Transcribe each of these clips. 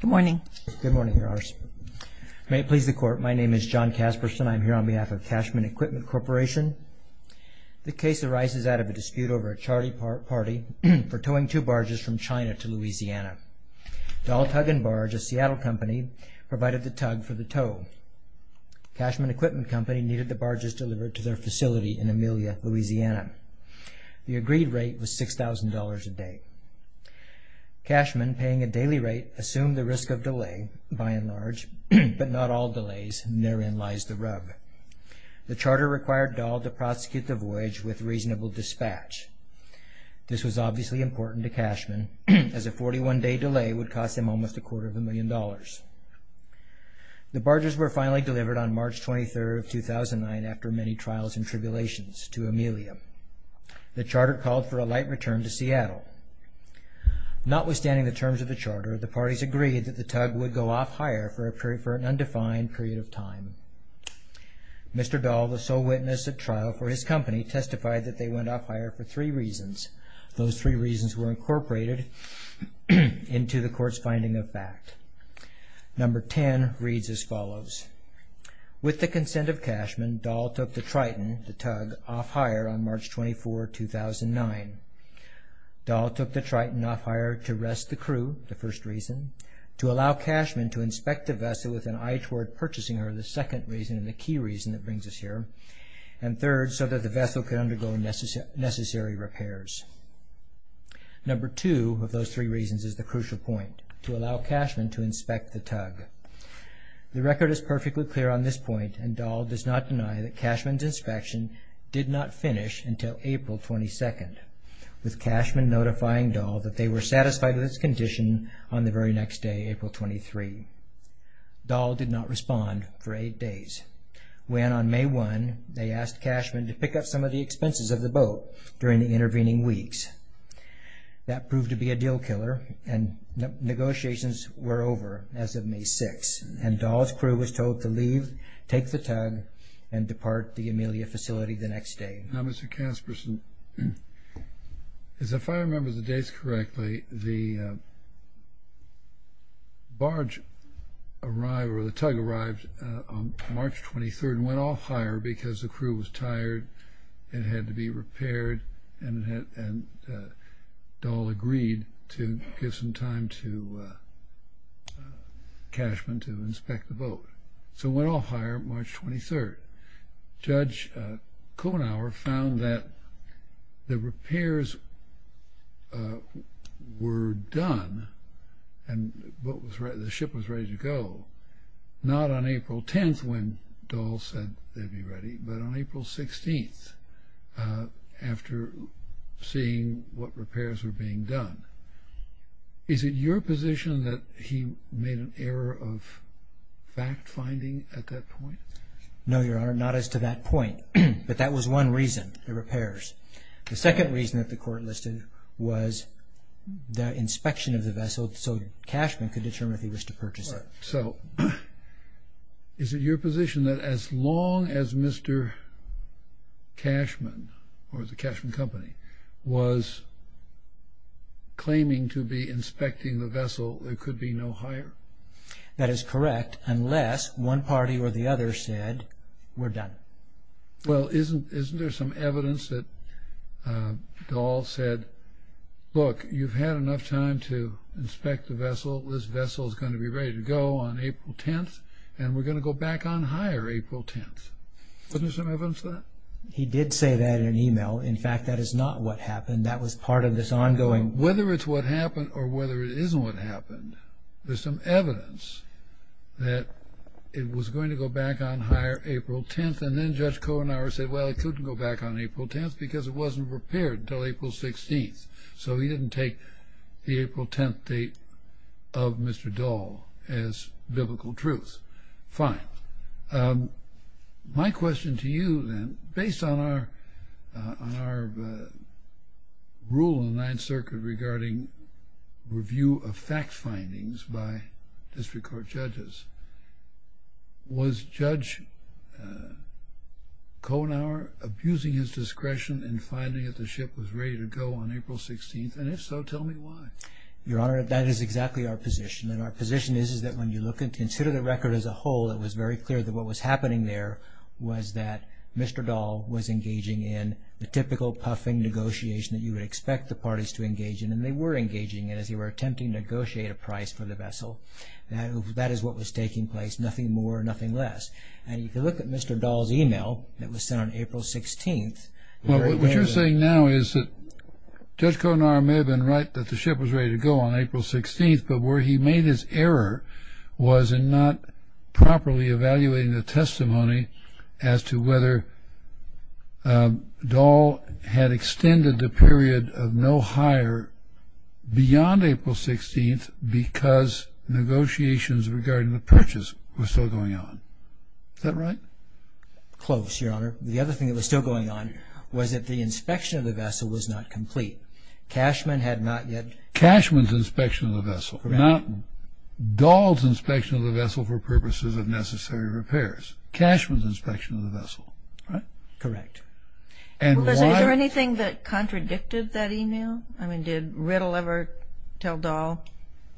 Good morning. Good morning, Your Honors. May it please the Court, my name is John Casperson. I'm here on behalf of Cashman Equipment Corporation. The case arises out of a dispute over a charty party for towing two barges from China to Louisiana. Dahl Tug & Barge, a Seattle company, provided the tug for the tow. Cashman Equipment Company needed the barges delivered to their facility in Amelia, Louisiana. The agreed rate was $6,000 a day. Cashman, paying a daily rate, assumed the risk of delay, by and large, but not all delays, and therein lies the rub. The charter required Dahl to prosecute the voyage with reasonable dispatch. This was obviously important to Cashman, as a 41-day delay would cost him almost a quarter of a million dollars. The barges were finally delivered on March 23, 2009, after many trials and tribulations, to Amelia. The charter called for a light return to Seattle. Notwithstanding the terms of the charter, the parties agreed that the tug would go off-hire for an undefined period of time. Mr. Dahl, the sole witness at trial for his company, testified that they went off-hire for three reasons. Those three reasons were incorporated into the Court's finding of fact. Number 10 reads as follows. With the consent of Cashman, Dahl took the Triton, the tug, off-hire on March 24, 2009. Dahl took the Triton off-hire to rest the crew, the first reason, to allow Cashman to inspect the vessel with an eye toward purchasing her, the second reason and the key reason that brings us here, and third, so that the vessel could undergo necessary repairs. Number two of those three reasons is the crucial point, to allow Cashman to inspect the tug. The record is perfectly clear on this point, and Dahl does not deny that Cashman's inspection did not finish until April 22, with Cashman notifying Dahl that they were satisfied with its condition on the very next day, April 23. Dahl did not respond for eight days, when on May 1, they asked Cashman to pick up some of the expenses of the boat during the intervening weeks. That proved to be a deal killer, and negotiations were over as of May 6, and Dahl's crew was told to leave, take the tug, and depart the Amelia facility the next day. Now Mr. Casperson, if I remember the dates correctly, the barge arrived, or the tug arrived, on March 23rd and went off-hire because the crew was tired, it had to be repaired, and Dahl agreed to give some time to Cashman to inspect the boat. So it went off-hire March 23rd. Judge Konauer found that the repairs were done and the ship was ready to go, not on April 10th when Dahl said they'd be ready, but on April 16th, after seeing what repairs were being done. Is it your position that he made an error of fact-finding at that point? No, Your Honor, not as to that point, but that was one reason, the repairs. The second reason that the Court listed was the inspection of the vessel so Cashman could determine if he was to purchase it. So, is it your position that as long as Mr. Cashman, or the Cashman Company, was claiming to be inspecting the vessel, there could be no hire? That is correct, unless one party or the other said, we're done. Well, isn't there some evidence that Dahl said, look, you've had enough time to inspect the vessel, this vessel's going to be ready to go on April 10th, and we're going to go back on hire April 10th? Isn't there some evidence of that? He did say that in an email. In fact, that is not what happened. That was part of this ongoing... Whether it's what happened or whether it isn't what happened, there's some evidence that it was going to go back on hire April 10th, and then Judge Kohenauer said, well, it couldn't go back on April 10th because it wasn't repaired until April 16th. So, he didn't take the April 10th date of Mr. Dahl as biblical truth. Fine. My question to you then, based on our rule in the Ninth Circuit regarding review of fact and evidence, is that Judge Kohenauer abusing his discretion in finding that the ship was ready to go on April 16th, and if so, tell me why. Your Honor, that is exactly our position, and our position is that when you look and consider the record as a whole, it was very clear that what was happening there was that Mr. Dahl was engaging in the typical puffing negotiation that you would expect the parties to engage in, and they were engaging in as they were attempting to negotiate a price for the vessel. That is what was taking place, nothing more, nothing less. And you can look at Mr. Dahl's email that was sent on April 16th. Well, what you're saying now is that Judge Kohenauer may have been right that the ship was ready to go on April 16th, but where he made his error was in not properly evaluating the testimony as to whether Dahl had extended the period of no hire beyond April 16th because negotiations regarding the purchase were still going on. Is that right? Close, Your Honor. The other thing that was still going on was that the inspection of the vessel was not complete. Cashman had not yet... Cashman's inspection of the vessel, not Dahl's inspection of the vessel for purposes of necessary repairs. Cashman's inspection of the vessel. Correct. Well, is there anything that contradicted that email? I mean, did Riddle ever tell Dahl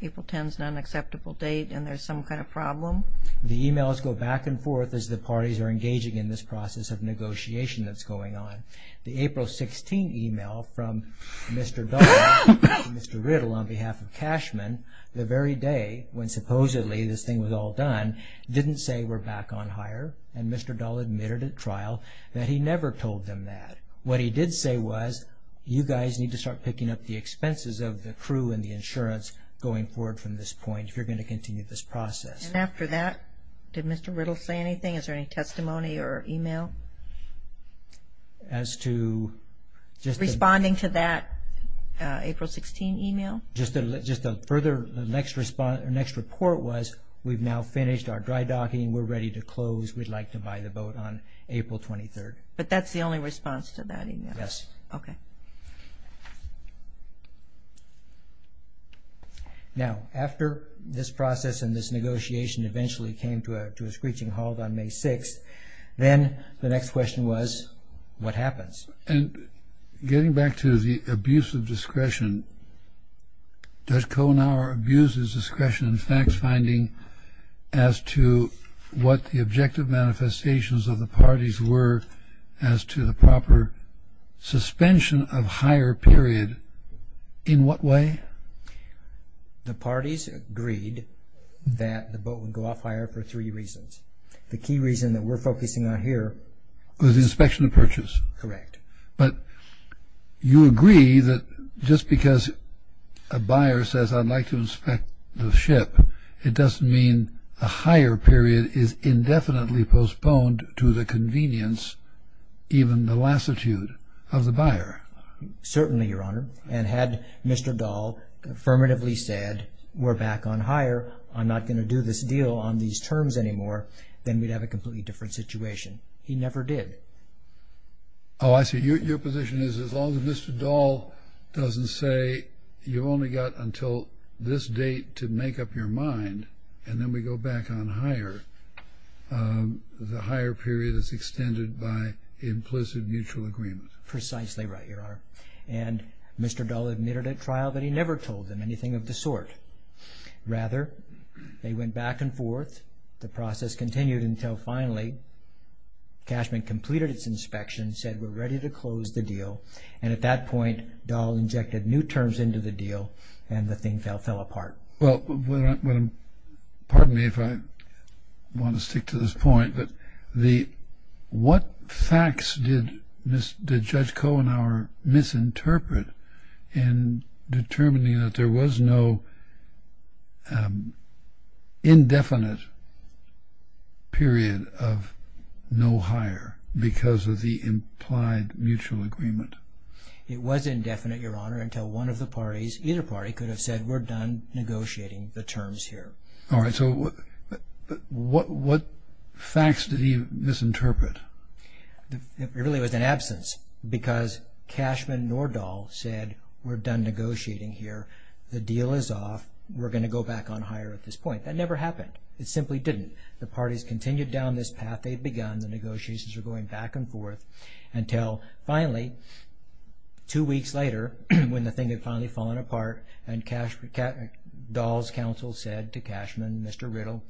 April 10th is an unacceptable date and there's some kind of problem? The emails go back and forth as the parties are engaging in this process of negotiation that's going on. The April 16th email from Mr. Dahl to Mr. Riddle on behalf of Cashman the very day when supposedly this thing was all done didn't say we're back on hire, and Mr. Dahl admitted at trial that he never told them that. What he did say was, you guys need to start picking up the expenses of the crew and the insurance going forward from this point if you're going to continue this process. And after that, did Mr. Riddle say anything? Is there any testimony or email? As to just... Responding to that April 16th email? Just a further, the next report was, we've now finished our dry docking, we're ready to close, we'd like to buy the boat on April 23rd. But that's the only response to that email? Yes. Okay. Now, after this process and this negotiation eventually came to a screeching halt on May 6th, then the next question was, what happens? And getting back to the abuse of discretion, does Kohenauer abuse his discretion in facts finding as to what the objective manifestations of the parties were as to the proper suspension of hire period? In what way? The parties agreed that the boat would go off hire for three reasons. The key reason that we're focusing on here... Was the inspection of purchase. Correct. But you agree that just because a buyer says, I'd like to inspect the ship, it doesn't mean a hire period is indefinitely postponed to the convenience, even the lassitude of the buyer. Certainly, Your Honor. And had Mr. Dahl affirmatively said, we're back on hire, I'm not going to do this deal on these terms anymore, then we'd have a completely different situation. He never did. Oh, I see. Your position is, as long as Mr. Dahl doesn't say, you've only got until this date to make up your mind, and then we go back on hire, the hire period is extended by implicit mutual agreement. Precisely right, Your Honor. And Mr. Dahl admitted at trial that he never told them anything of the sort. Rather, they went back and forth. The process continued until finally, Cashman completed its inspection, said, we're ready to close the deal. And at that point, Dahl injected new terms into the deal, and the thing fell apart. Well, pardon me if I want to stick to this point, but what facts did Judge Kohenhauer misinterpret in determining that there was no indefinite period of no hire because of the implied mutual agreement? It was indefinite, Your Honor, until one of the parties, either party, could have said, we're done negotiating the terms here. All right. So what facts did he misinterpret? It really was an absence because Cashman nor Dahl said, we're done negotiating here. The deal is off. We're going to go back on hire at this point. That never happened. It simply didn't. The parties continued down this path. They'd begun. The negotiations were going back and forth until finally, two weeks later, when the thing had finally fallen apart and Dahl's counsel said to Cashman, Mr. Riddle,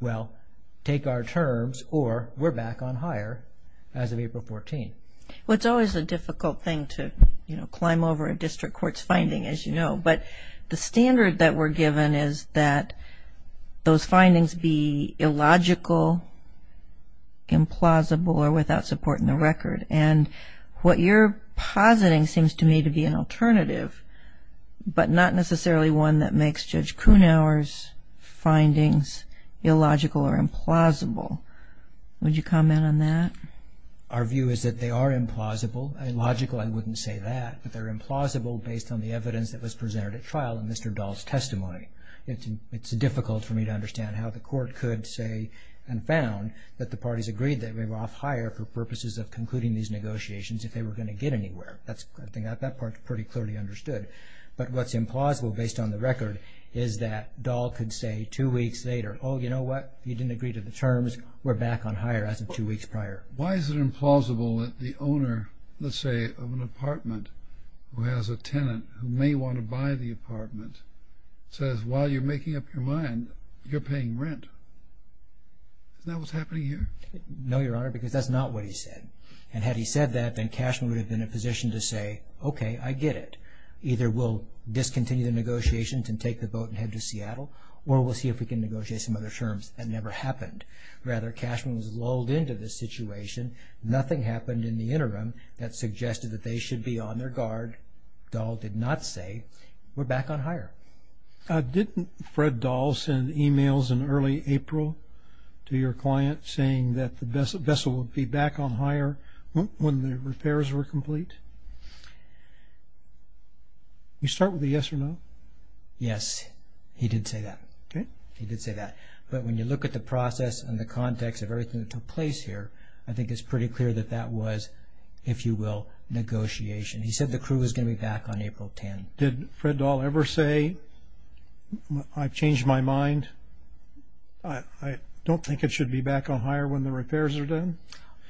well, take our terms or we're going to go back on hire as of April 14th. Well, it's always a difficult thing to climb over a district court's finding, as you know, but the standard that we're given is that those findings be illogical, implausible, or without support in the record, and what you're positing seems to me to be an alternative, but not necessarily one that makes Judge Kohenhauer's findings illogical or implausible. Would you comment on that? Our view is that they are implausible. Illogical, I wouldn't say that, but they're implausible based on the evidence that was presented at trial in Mr. Dahl's testimony. It's difficult for me to understand how the court could say and found that the parties agreed that they were off hire for purposes of concluding these negotiations if they were going to get anywhere. I think that part's pretty clearly understood, but what's implausible based on the record is that Dahl could say two weeks later, oh, you know what? You didn't agree to the terms. We're back on hire as of two weeks prior. Why is it implausible that the owner, let's say, of an apartment who has a tenant who may want to buy the apartment says, while you're making up your mind, you're paying rent? Isn't that what's happening here? No, Your Honor, because that's not what he said, and had he said that, then Cashman would have been in a position to say, okay, I get it. Either we'll discontinue the negotiations and take the boat and head to Seattle, or we'll see if we can negotiate some other terms. That never happened. Rather, Cashman was lulled into this situation. Nothing happened in the interim that suggested that they should be on their guard. Dahl did not say, we're back on hire. Didn't Fred Dahl send emails in early April to your client saying that the vessel would be back on hire when the repairs were complete? You start with a yes or no. Yes, he did say that. Okay. He did say that. But when you look at the process and the context of everything that took place here, I think it's pretty clear that that was, if you will, negotiation. He said the crew was going to be back on April 10. Did Fred Dahl ever say, I've changed my mind, I don't think it should be back on hire when the repairs are done?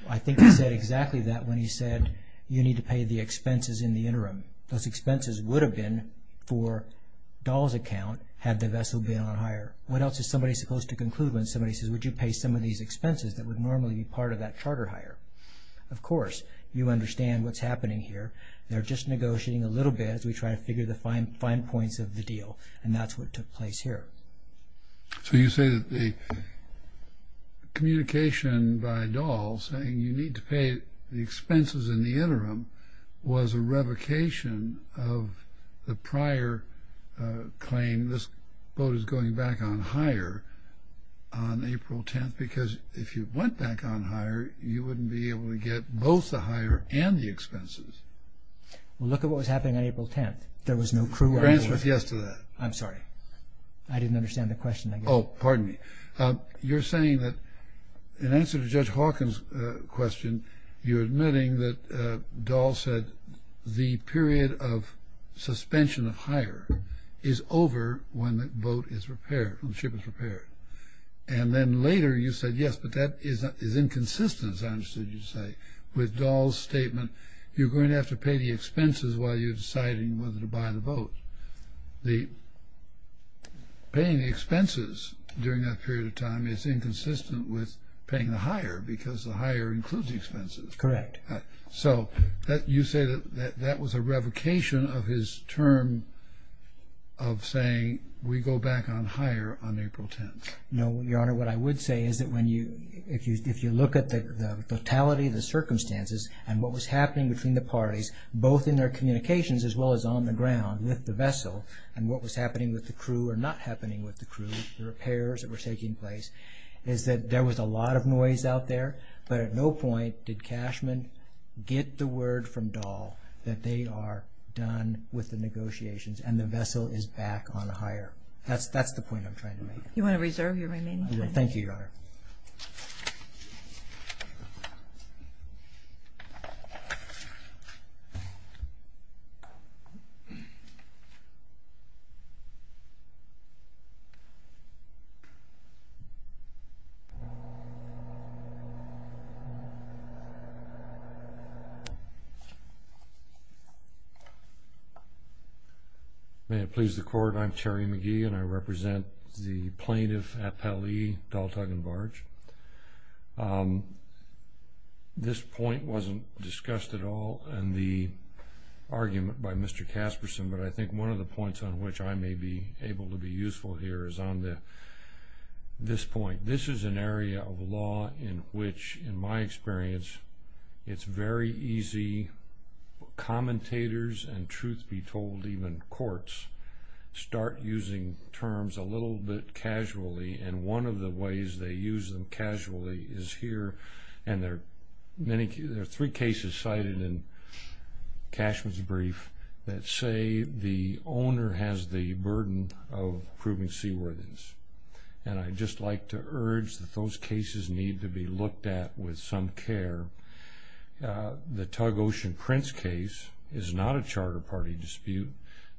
I think he said exactly that when he said, you need to pay the expenses in the interim. Those expenses would have been for Dahl's account had the vessel been on What else is somebody supposed to conclude when somebody says, would you pay some of these expenses that would normally be part of that charter hire? Of course, you understand what's happening here. They're just negotiating a little bit as we try to figure the fine points of the deal. And that's what took place here. So you say that the communication by Dahl saying you need to pay the expenses in the on hire on April 10th, because if you went back on hire, you wouldn't be able to get both the hire and the expenses. Well, look at what was happening on April 10th. There was no crew. France was yes to that. I'm sorry. I didn't understand the question. Oh, pardon me. You're saying that in answer to Judge Hawkins' question, you're admitting that the period of suspension of hire is over when the boat is repaired, when the ship is repaired. And then later you said, yes, but that is inconsistent, as I understood you to say, with Dahl's statement. You're going to have to pay the expenses while you're deciding whether to buy the boat. The paying the expenses during that period of time is inconsistent with paying the hire because the hire includes the expenses. Correct. So you say that that was a revocation of his term of saying we go back on hire on April 10th. No, Your Honor, what I would say is that if you look at the totality of the circumstances and what was happening between the parties, both in their communications as well as on the ground with the vessel and what was happening with the crew or not happening with the crew, the repairs that were taking place, is that there was a lot of noise out there, but at no point did Cashman get the word from Dahl that they are done with the negotiations and the vessel is back on hire. That's the point I'm trying to make. You want to reserve your remaining time? Thank you, Your Honor. May it please the Court, I'm Terry McGee and I represent the plaintiff at Pelley, Dahl, Tug and Barge. This point wasn't discussed at all in the argument by Mr. Casperson, but I think one of the points on which I may be able to be useful here is on this point. This is an area of law in which, in my experience, it's very easy commentators and truth be told even courts start using terms a little bit casually and one of the ways they use them casually is here and there are three cases cited in Cashman's brief that say the owner has the burden of proving seaworthiness and I'd just like to urge that those cases need to be looked at with some care. The Tug Ocean Prince case is not a charter party dispute.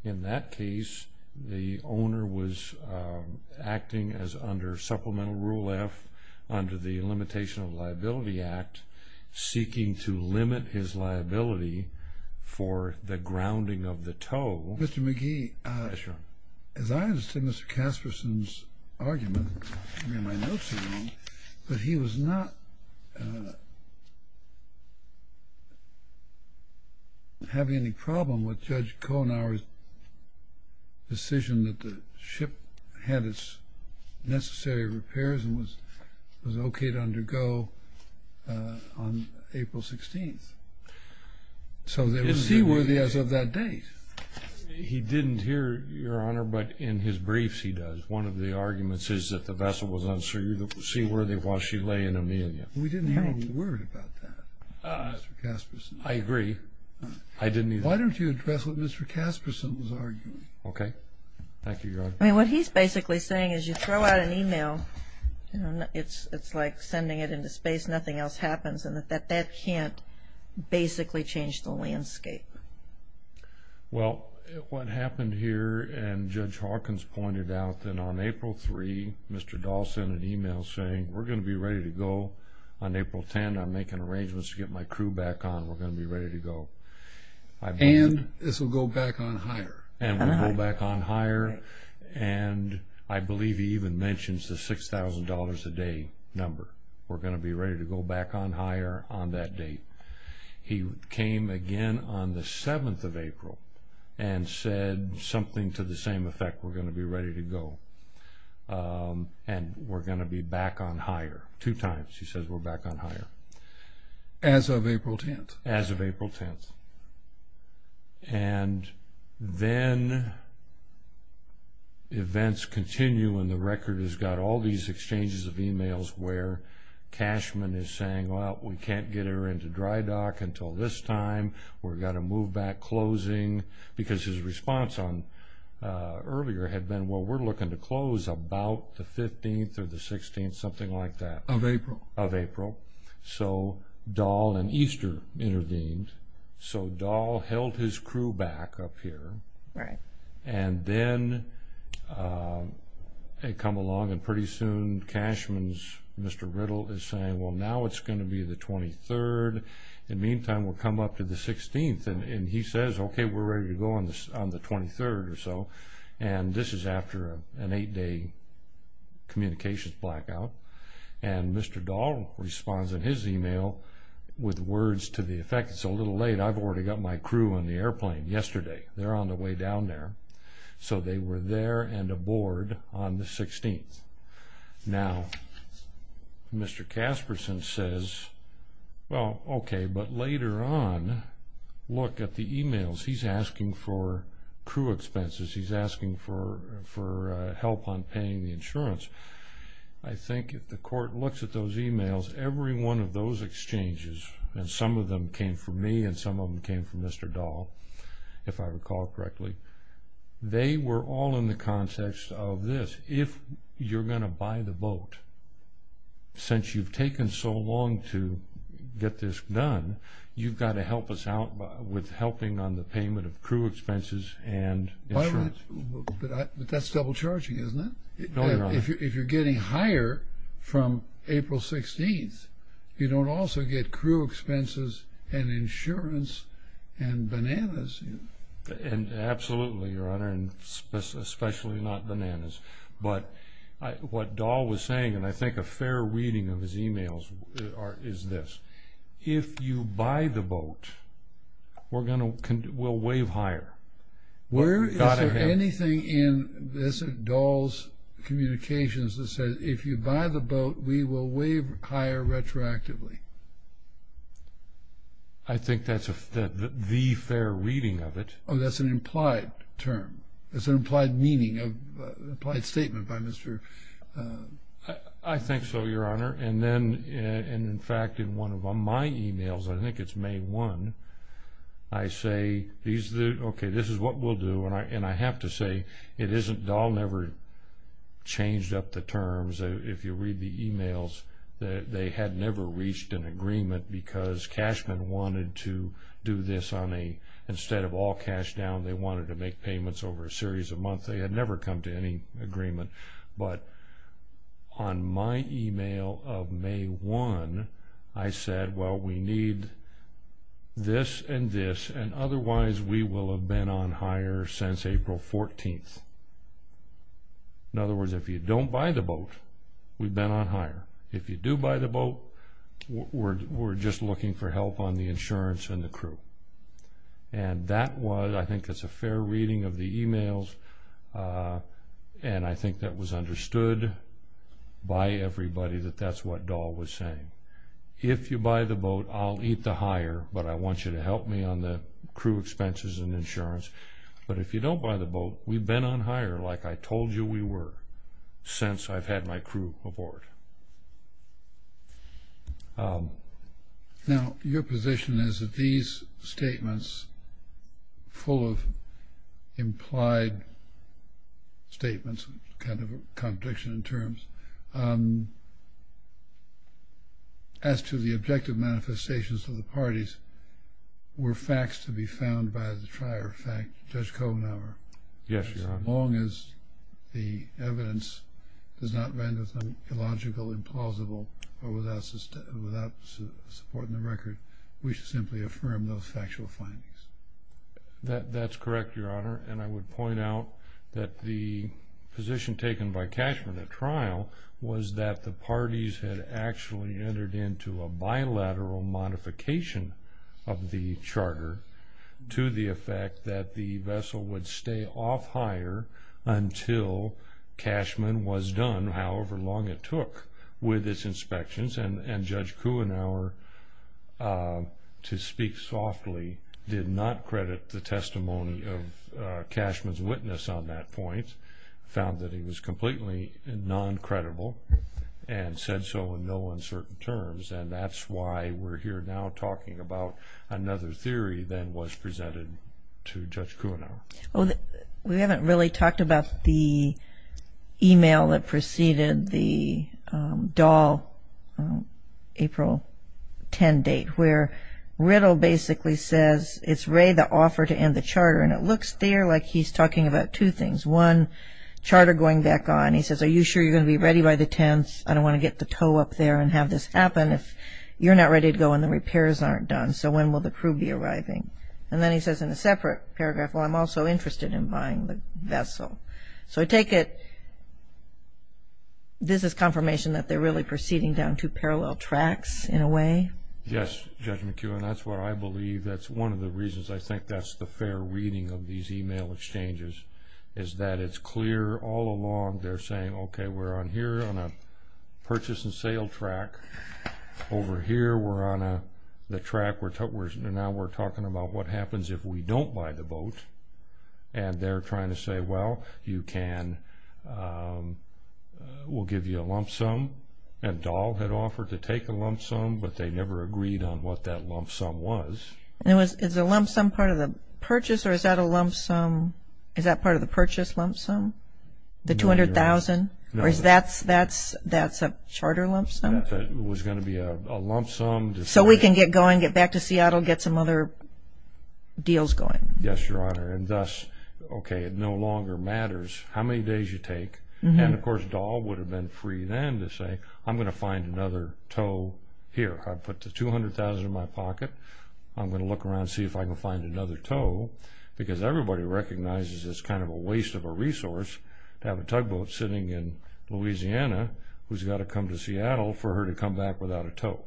In that case, the owner was acting as under Supplemental Rule F, under the Limitation of Liability Act, seeking to limit his liability for the grounding of the tow. Mr. McGee, as I understood Mr. Casperson's argument, I mean my notes are wrong, but he was not having any problem with Judge Kohnauer's decision that the ship had its necessary repairs and was okay to undergo on April 16th. So it was seaworthy as of that date? He didn't hear, Your Honor, but in his briefs he does. One of the arguments is that the vessel was unseaworthy while she lay in Amelia. We didn't hear any word about that, Mr. Casperson. I agree. Why don't you address what Mr. Casperson was arguing? Okay. Thank you, Your Honor. What he's basically saying is you throw out an email, it's like sending it into space, nothing else happens, and that that can't basically change the landscape. Well, what happened here, and Judge Hawkins pointed out that on April 3, Mr. Dahl sent an email saying we're going to be ready to go on April 10. I'm making arrangements to get my crew back on. We're going to be ready to go. And this will go back on hire. And we'll go back on hire, and I believe he even mentions the $6,000 a day number. We're going to be ready to go back on hire on that date. He came again on the 7th of April and said something to the same effect. We're going to be ready to go, and we're going to be back on hire. Two times he says we're back on hire. As of April 10th? As of April 10th. And then events continue, and the record has got all these exchanges of emails where Cashman is saying, well, we can't get her into dry dock until this time. We've got to move back closing, because his response earlier had been, well, we're looking to close about the 15th or the 16th, something like that. Of April. Of April. So Dahl and Easter intervened. So Dahl held his crew back up here. Right. And then they come along, and pretty soon Cashman's Mr. Riddle is saying, well, now it's going to be the 23rd. In the meantime, we'll come up to the 16th. And he says, OK, we're ready to go on the 23rd or so. And this is after an eight-day communications blackout. And Mr. Dahl responds in his email with words to the effect. It's a little late. I've already got my crew on the airplane yesterday. They're on the way down there. So they were there and aboard on the 16th. Now, Mr. Casperson says, well, OK, but later on, look at the emails. He's asking for crew expenses. He's asking for help on paying the insurance. I think if the court looks at those emails, every one of those exchanges, and some of them came from me, and some of them came from Mr. Dahl, if I recall correctly, they were all in the context of this. If you're going to buy the boat, since you've taken so long to get this done, you've got to help us out with helping on the payment of crew expenses and insurance. But that's double charging, isn't it? No, Your Honor. If you're getting hire from April 16th, you don't also get crew expenses and insurance and bananas. And absolutely, Your Honor, and especially not bananas. But what Dahl was saying, and I think a fair reading of his emails is this. If you buy the boat, we'll waive hire. Where is there anything in Dahl's communications that says, if you buy the boat, we will waive hire retroactively? I think that's the fair reading of it. Oh, that's an implied term. That's an implied meaning, an implied statement by Mr. Dahl. I think so, Your Honor. And then, in fact, in one of my emails, I think it's May 1, I say, okay, this is what we'll do. And I have to say, Dahl never changed up the terms. If you read the emails, they had never reached an agreement because Cashman wanted to do this on a, instead of all cash down, they wanted to make payments over a series of months. They had never come to any agreement. But on my email of May 1, I said, well, we need this and this. And otherwise, we will have been on hire since April 14. In other words, if you don't buy the boat, we've been on hire. If you do buy the boat, we're just looking for help on the insurance and the crew. And that was, I think it's a fair reading of the emails. And I think that was understood by everybody that that's what Dahl was saying. If you buy the boat, I'll eat the hire, but I want you to help me on the crew expenses and insurance. But if you don't buy the boat, we've been on hire like I told you we were since I've had my crew aboard. Now, your position is that these statements, full of implied statements, kind of a contradiction in terms, as to the objective manifestations of the parties, were facts to be found by the trier of fact, Judge Kohlenhauer? Yes, Your Honor. As long as the evidence does not render them illogical, implausible, or without support in the record, we should simply affirm those factual findings. That's correct, Your Honor. And I would point out that the position taken by Cashman at trial was that the parties had actually entered into a bilateral modification of the charter to the effect that the vessel would stay off hire until Cashman was done, however long it took with its inspections. And Judge Kohlenhauer, to speak softly, did not credit the testimony of Cashman's witness on that point, found that he was completely non-credible and said so in no uncertain terms. And that's why we're here now talking about another theory that was presented to Judge Kohlenhauer. Well, we haven't really talked about the email that preceded the Dahl April 10 date, where Riddle basically says, it's Ray the offer to end the charter. And it looks there like he's talking about two things. One, charter going back on. He says, are you sure you're going to be ready by the 10th? I don't want to get the toe up there and have this happen. You're not ready to go and the repairs aren't done. So when will the crew be arriving? And then he says in a separate paragraph, well, I'm also interested in buying the vessel. So I take it this is confirmation that they're really proceeding down two parallel tracks in a way? Yes, Judge McKeown, that's what I believe. That's one of the reasons I think that's the fair reading of these email exchanges is that it's clear all along they're saying, okay, we're on here on a purchase and sale track. Over here, we're on the track. Now we're talking about what happens if we don't buy the boat. And they're trying to say, well, you can, we'll give you a lump sum. And Dahl had offered to take a lump sum, but they never agreed on what that lump sum was. Is the lump sum part of the purchase or is that a lump sum? Is that part of the purchase lump sum? The $200,000 or is that's a charter lump sum? It was going to be a lump sum. So we can get going, get back to Seattle, get some other deals going? Yes, Your Honor. And thus, okay, it no longer matters how many days you take. And of course, Dahl would have been free then to say, I'm going to find another tow here. I put the $200,000 in my pocket. I'm going to look around and see if I can find another tow because everybody recognizes it's kind of a waste of a resource to have a tugboat sitting in Louisiana who's got to come to Seattle for her to come back without a tow.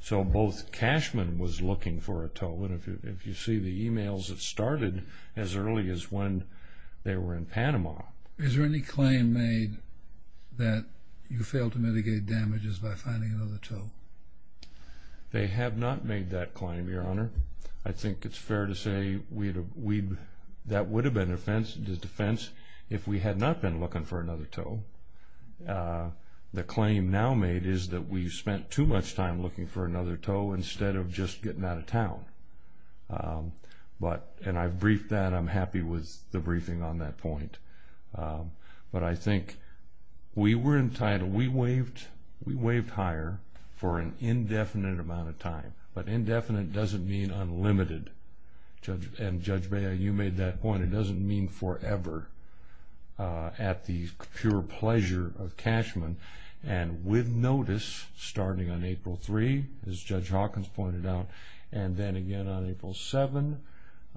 So both Cashman was looking for a tow. And if you see the emails that started as early as when they were in Panama. Is there any claim made that you failed to mitigate damages by finding another tow? They have not made that claim, Your Honor. I think it's fair to say that would have been a defense if we had not been looking for another tow. The claim now made is that we spent too much time looking for another tow instead of just getting out of town. And I've briefed that. I'm happy with the briefing on that point. But I think we were entitled. We waived higher for an indefinite amount of time. But indefinite doesn't mean unlimited. And Judge Bea, you made that point. It doesn't mean forever at the pure pleasure of Cashman. And with notice starting on April 3, as Judge Hawkins pointed out, and then again on April 7,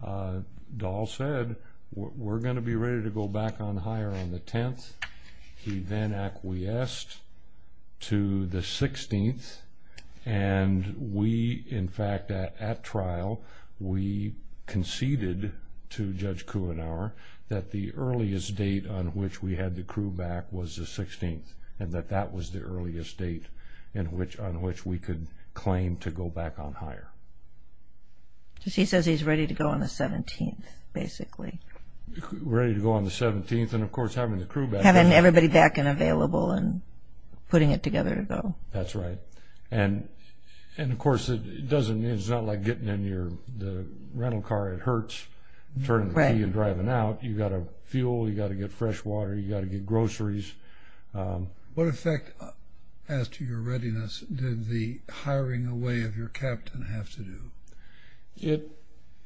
Dahl said, we're going to be ready to go back on higher on the 10th. He then acquiesced to the 16th. And we, in fact, at trial, we conceded to Judge Kuhnauer that the earliest date on which we had the crew back was the 16th and that that was the earliest date on which we could claim to go back on higher. He says he's ready to go on the 17th, basically. Ready to go on the 17th and, of course, having the crew back. Having everybody back and available and putting it together to go. That's right. And, of course, it's not like getting in the rental car. It hurts turning the key and driving out. You've got to fuel. You've got to get fresh water. You've got to get groceries. What effect, as to your readiness, did the hiring away of your captain have to do?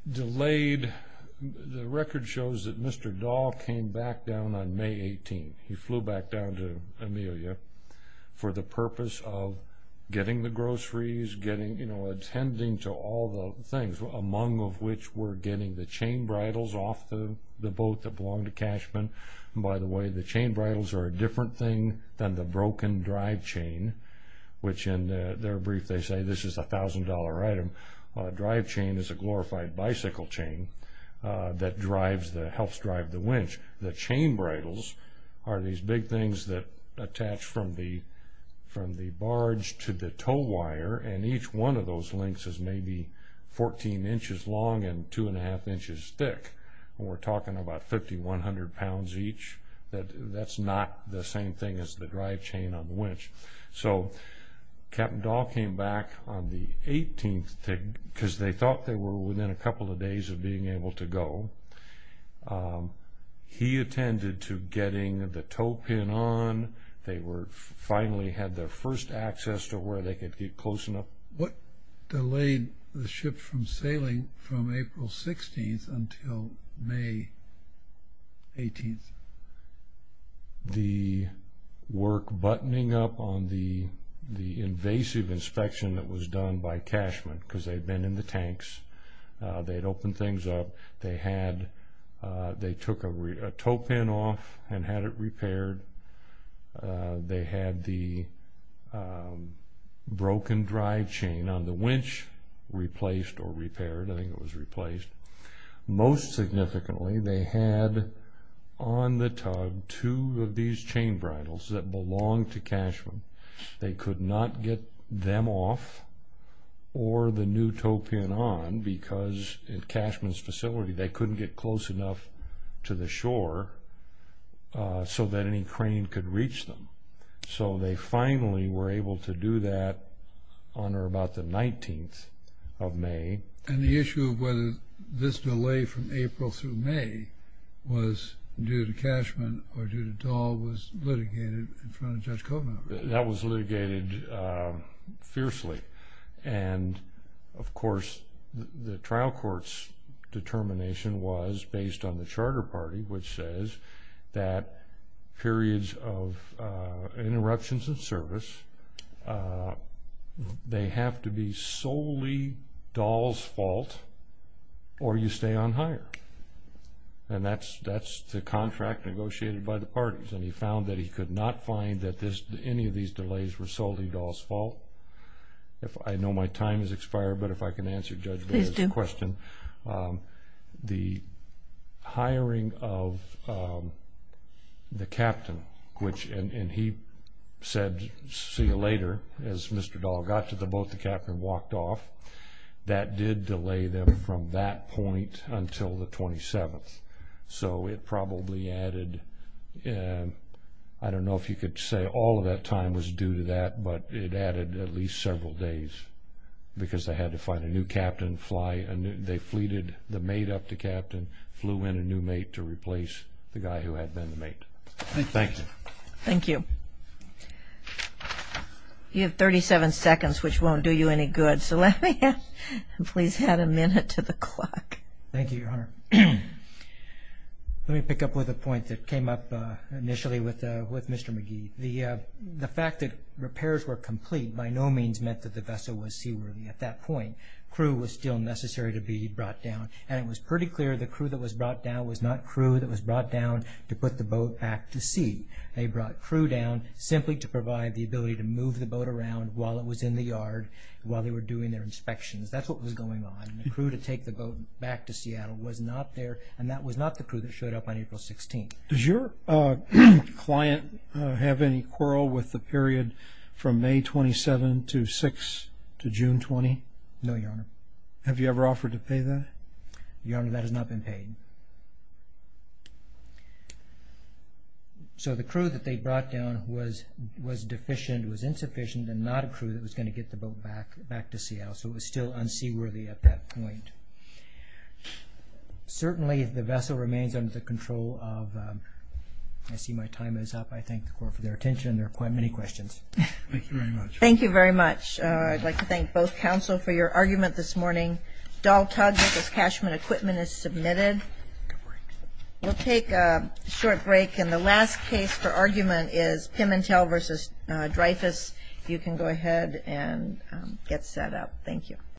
The record shows that Mr. Dahl came back down on May 18. He flew back down to Amelia for the purpose of getting the groceries, getting, you know, attending to all the things, among which were getting the chain bridles off the boat that belonged to Cashman. By the way, the chain bridles are a different thing than the broken drive chain, which in their brief, they say this is a $1,000 item. A drive chain is a glorified bicycle chain that drives, that helps drive the winch. The chain bridles are these big things that attach from the barge to the tow wire, and each one of those links is maybe 14 inches long and 2 1⁄2 inches thick. We're talking about 5,100 pounds each. That's not the same thing as the drive chain on the winch. So Captain Dahl came back on the 18th, because they thought they were within a couple of days of being able to go. He attended to getting the tow pin on. They finally had their first access to where they could get close enough. What delayed the ship from sailing from April 16th until May 18th? The work buttoning up on the invasive inspection that was done by Cashman, because they'd been in the tanks. They'd opened things up. They took a tow pin off and had it repaired. They had the broken drive chain on the winch replaced or repaired. I think it was replaced. Most significantly, they had on the tug two of these chain bridles that belonged to Cashman. They could not get them off or the new tow pin on, because at Cashman's facility, they couldn't get close enough to the shore so that any crane could reach them. So they finally were able to do that on or about the 19th of May. And the issue of whether this delay from April through May was due to Cashman or due to Dahl was litigated in front of Judge Kovner? That was litigated fiercely. And of course, the trial court's determination was based on the Charter Party, which says that periods of interruptions in service, they have to be solely Dahl's fault or you stay on hire. And that's the contract negotiated by the parties. And he found that he could not find that any of these delays were solely Dahl's fault. I know my time has expired, but if I can answer Judge Boyer's question. Please do. The hiring of the captain, and he said, see you later. As Mr. Dahl got to the boat, the captain walked off. That did delay them from that point until the 27th. So it probably added, I don't know if you could say all of that time was due to that, but it added at least several days, because they had to find a new captain, fly a new, they fleeted the mate up to captain, flew in a new mate to replace the guy who had been the mate. Thank you. Thank you. You have 37 seconds, which won't do you any good. So let me, please add a minute to the clock. Thank you, Your Honor. Let me pick up with a point that came up initially with Mr. McGee. The fact that repairs were complete by no means meant that the vessel was seaworthy. At that point, crew was still necessary to be brought down, and it was pretty clear the crew that was brought down was not crew that was brought down to put the boat back to sea. They brought crew down simply to provide the ability to move the boat around while it was in the yard, while they were doing their inspections. That's what was going on. The crew to take the boat back to Seattle was not there, and that was not the crew that showed up on April 16th. Does your client have any quarrel with the period from May 27 to June 20? No, Your Honor. Have you ever offered to pay that? Your Honor, that has not been paid. So the crew that they brought down was deficient, was insufficient, and not a crew that was going to get the boat back to Seattle. So it was still unseaworthy at that point. Certainly, the vessel remains under the control of... I see my time is up. I thank the court for their attention. There are quite many questions. Thank you very much. Thank you very much. I'd like to thank both counsel for your argument this morning. Dahl Tugg versus Cashman Equipment is submitted. We'll take a short break, and the last case for argument is Pimentel versus Dreyfus. If you can go ahead and get set up. Thank you.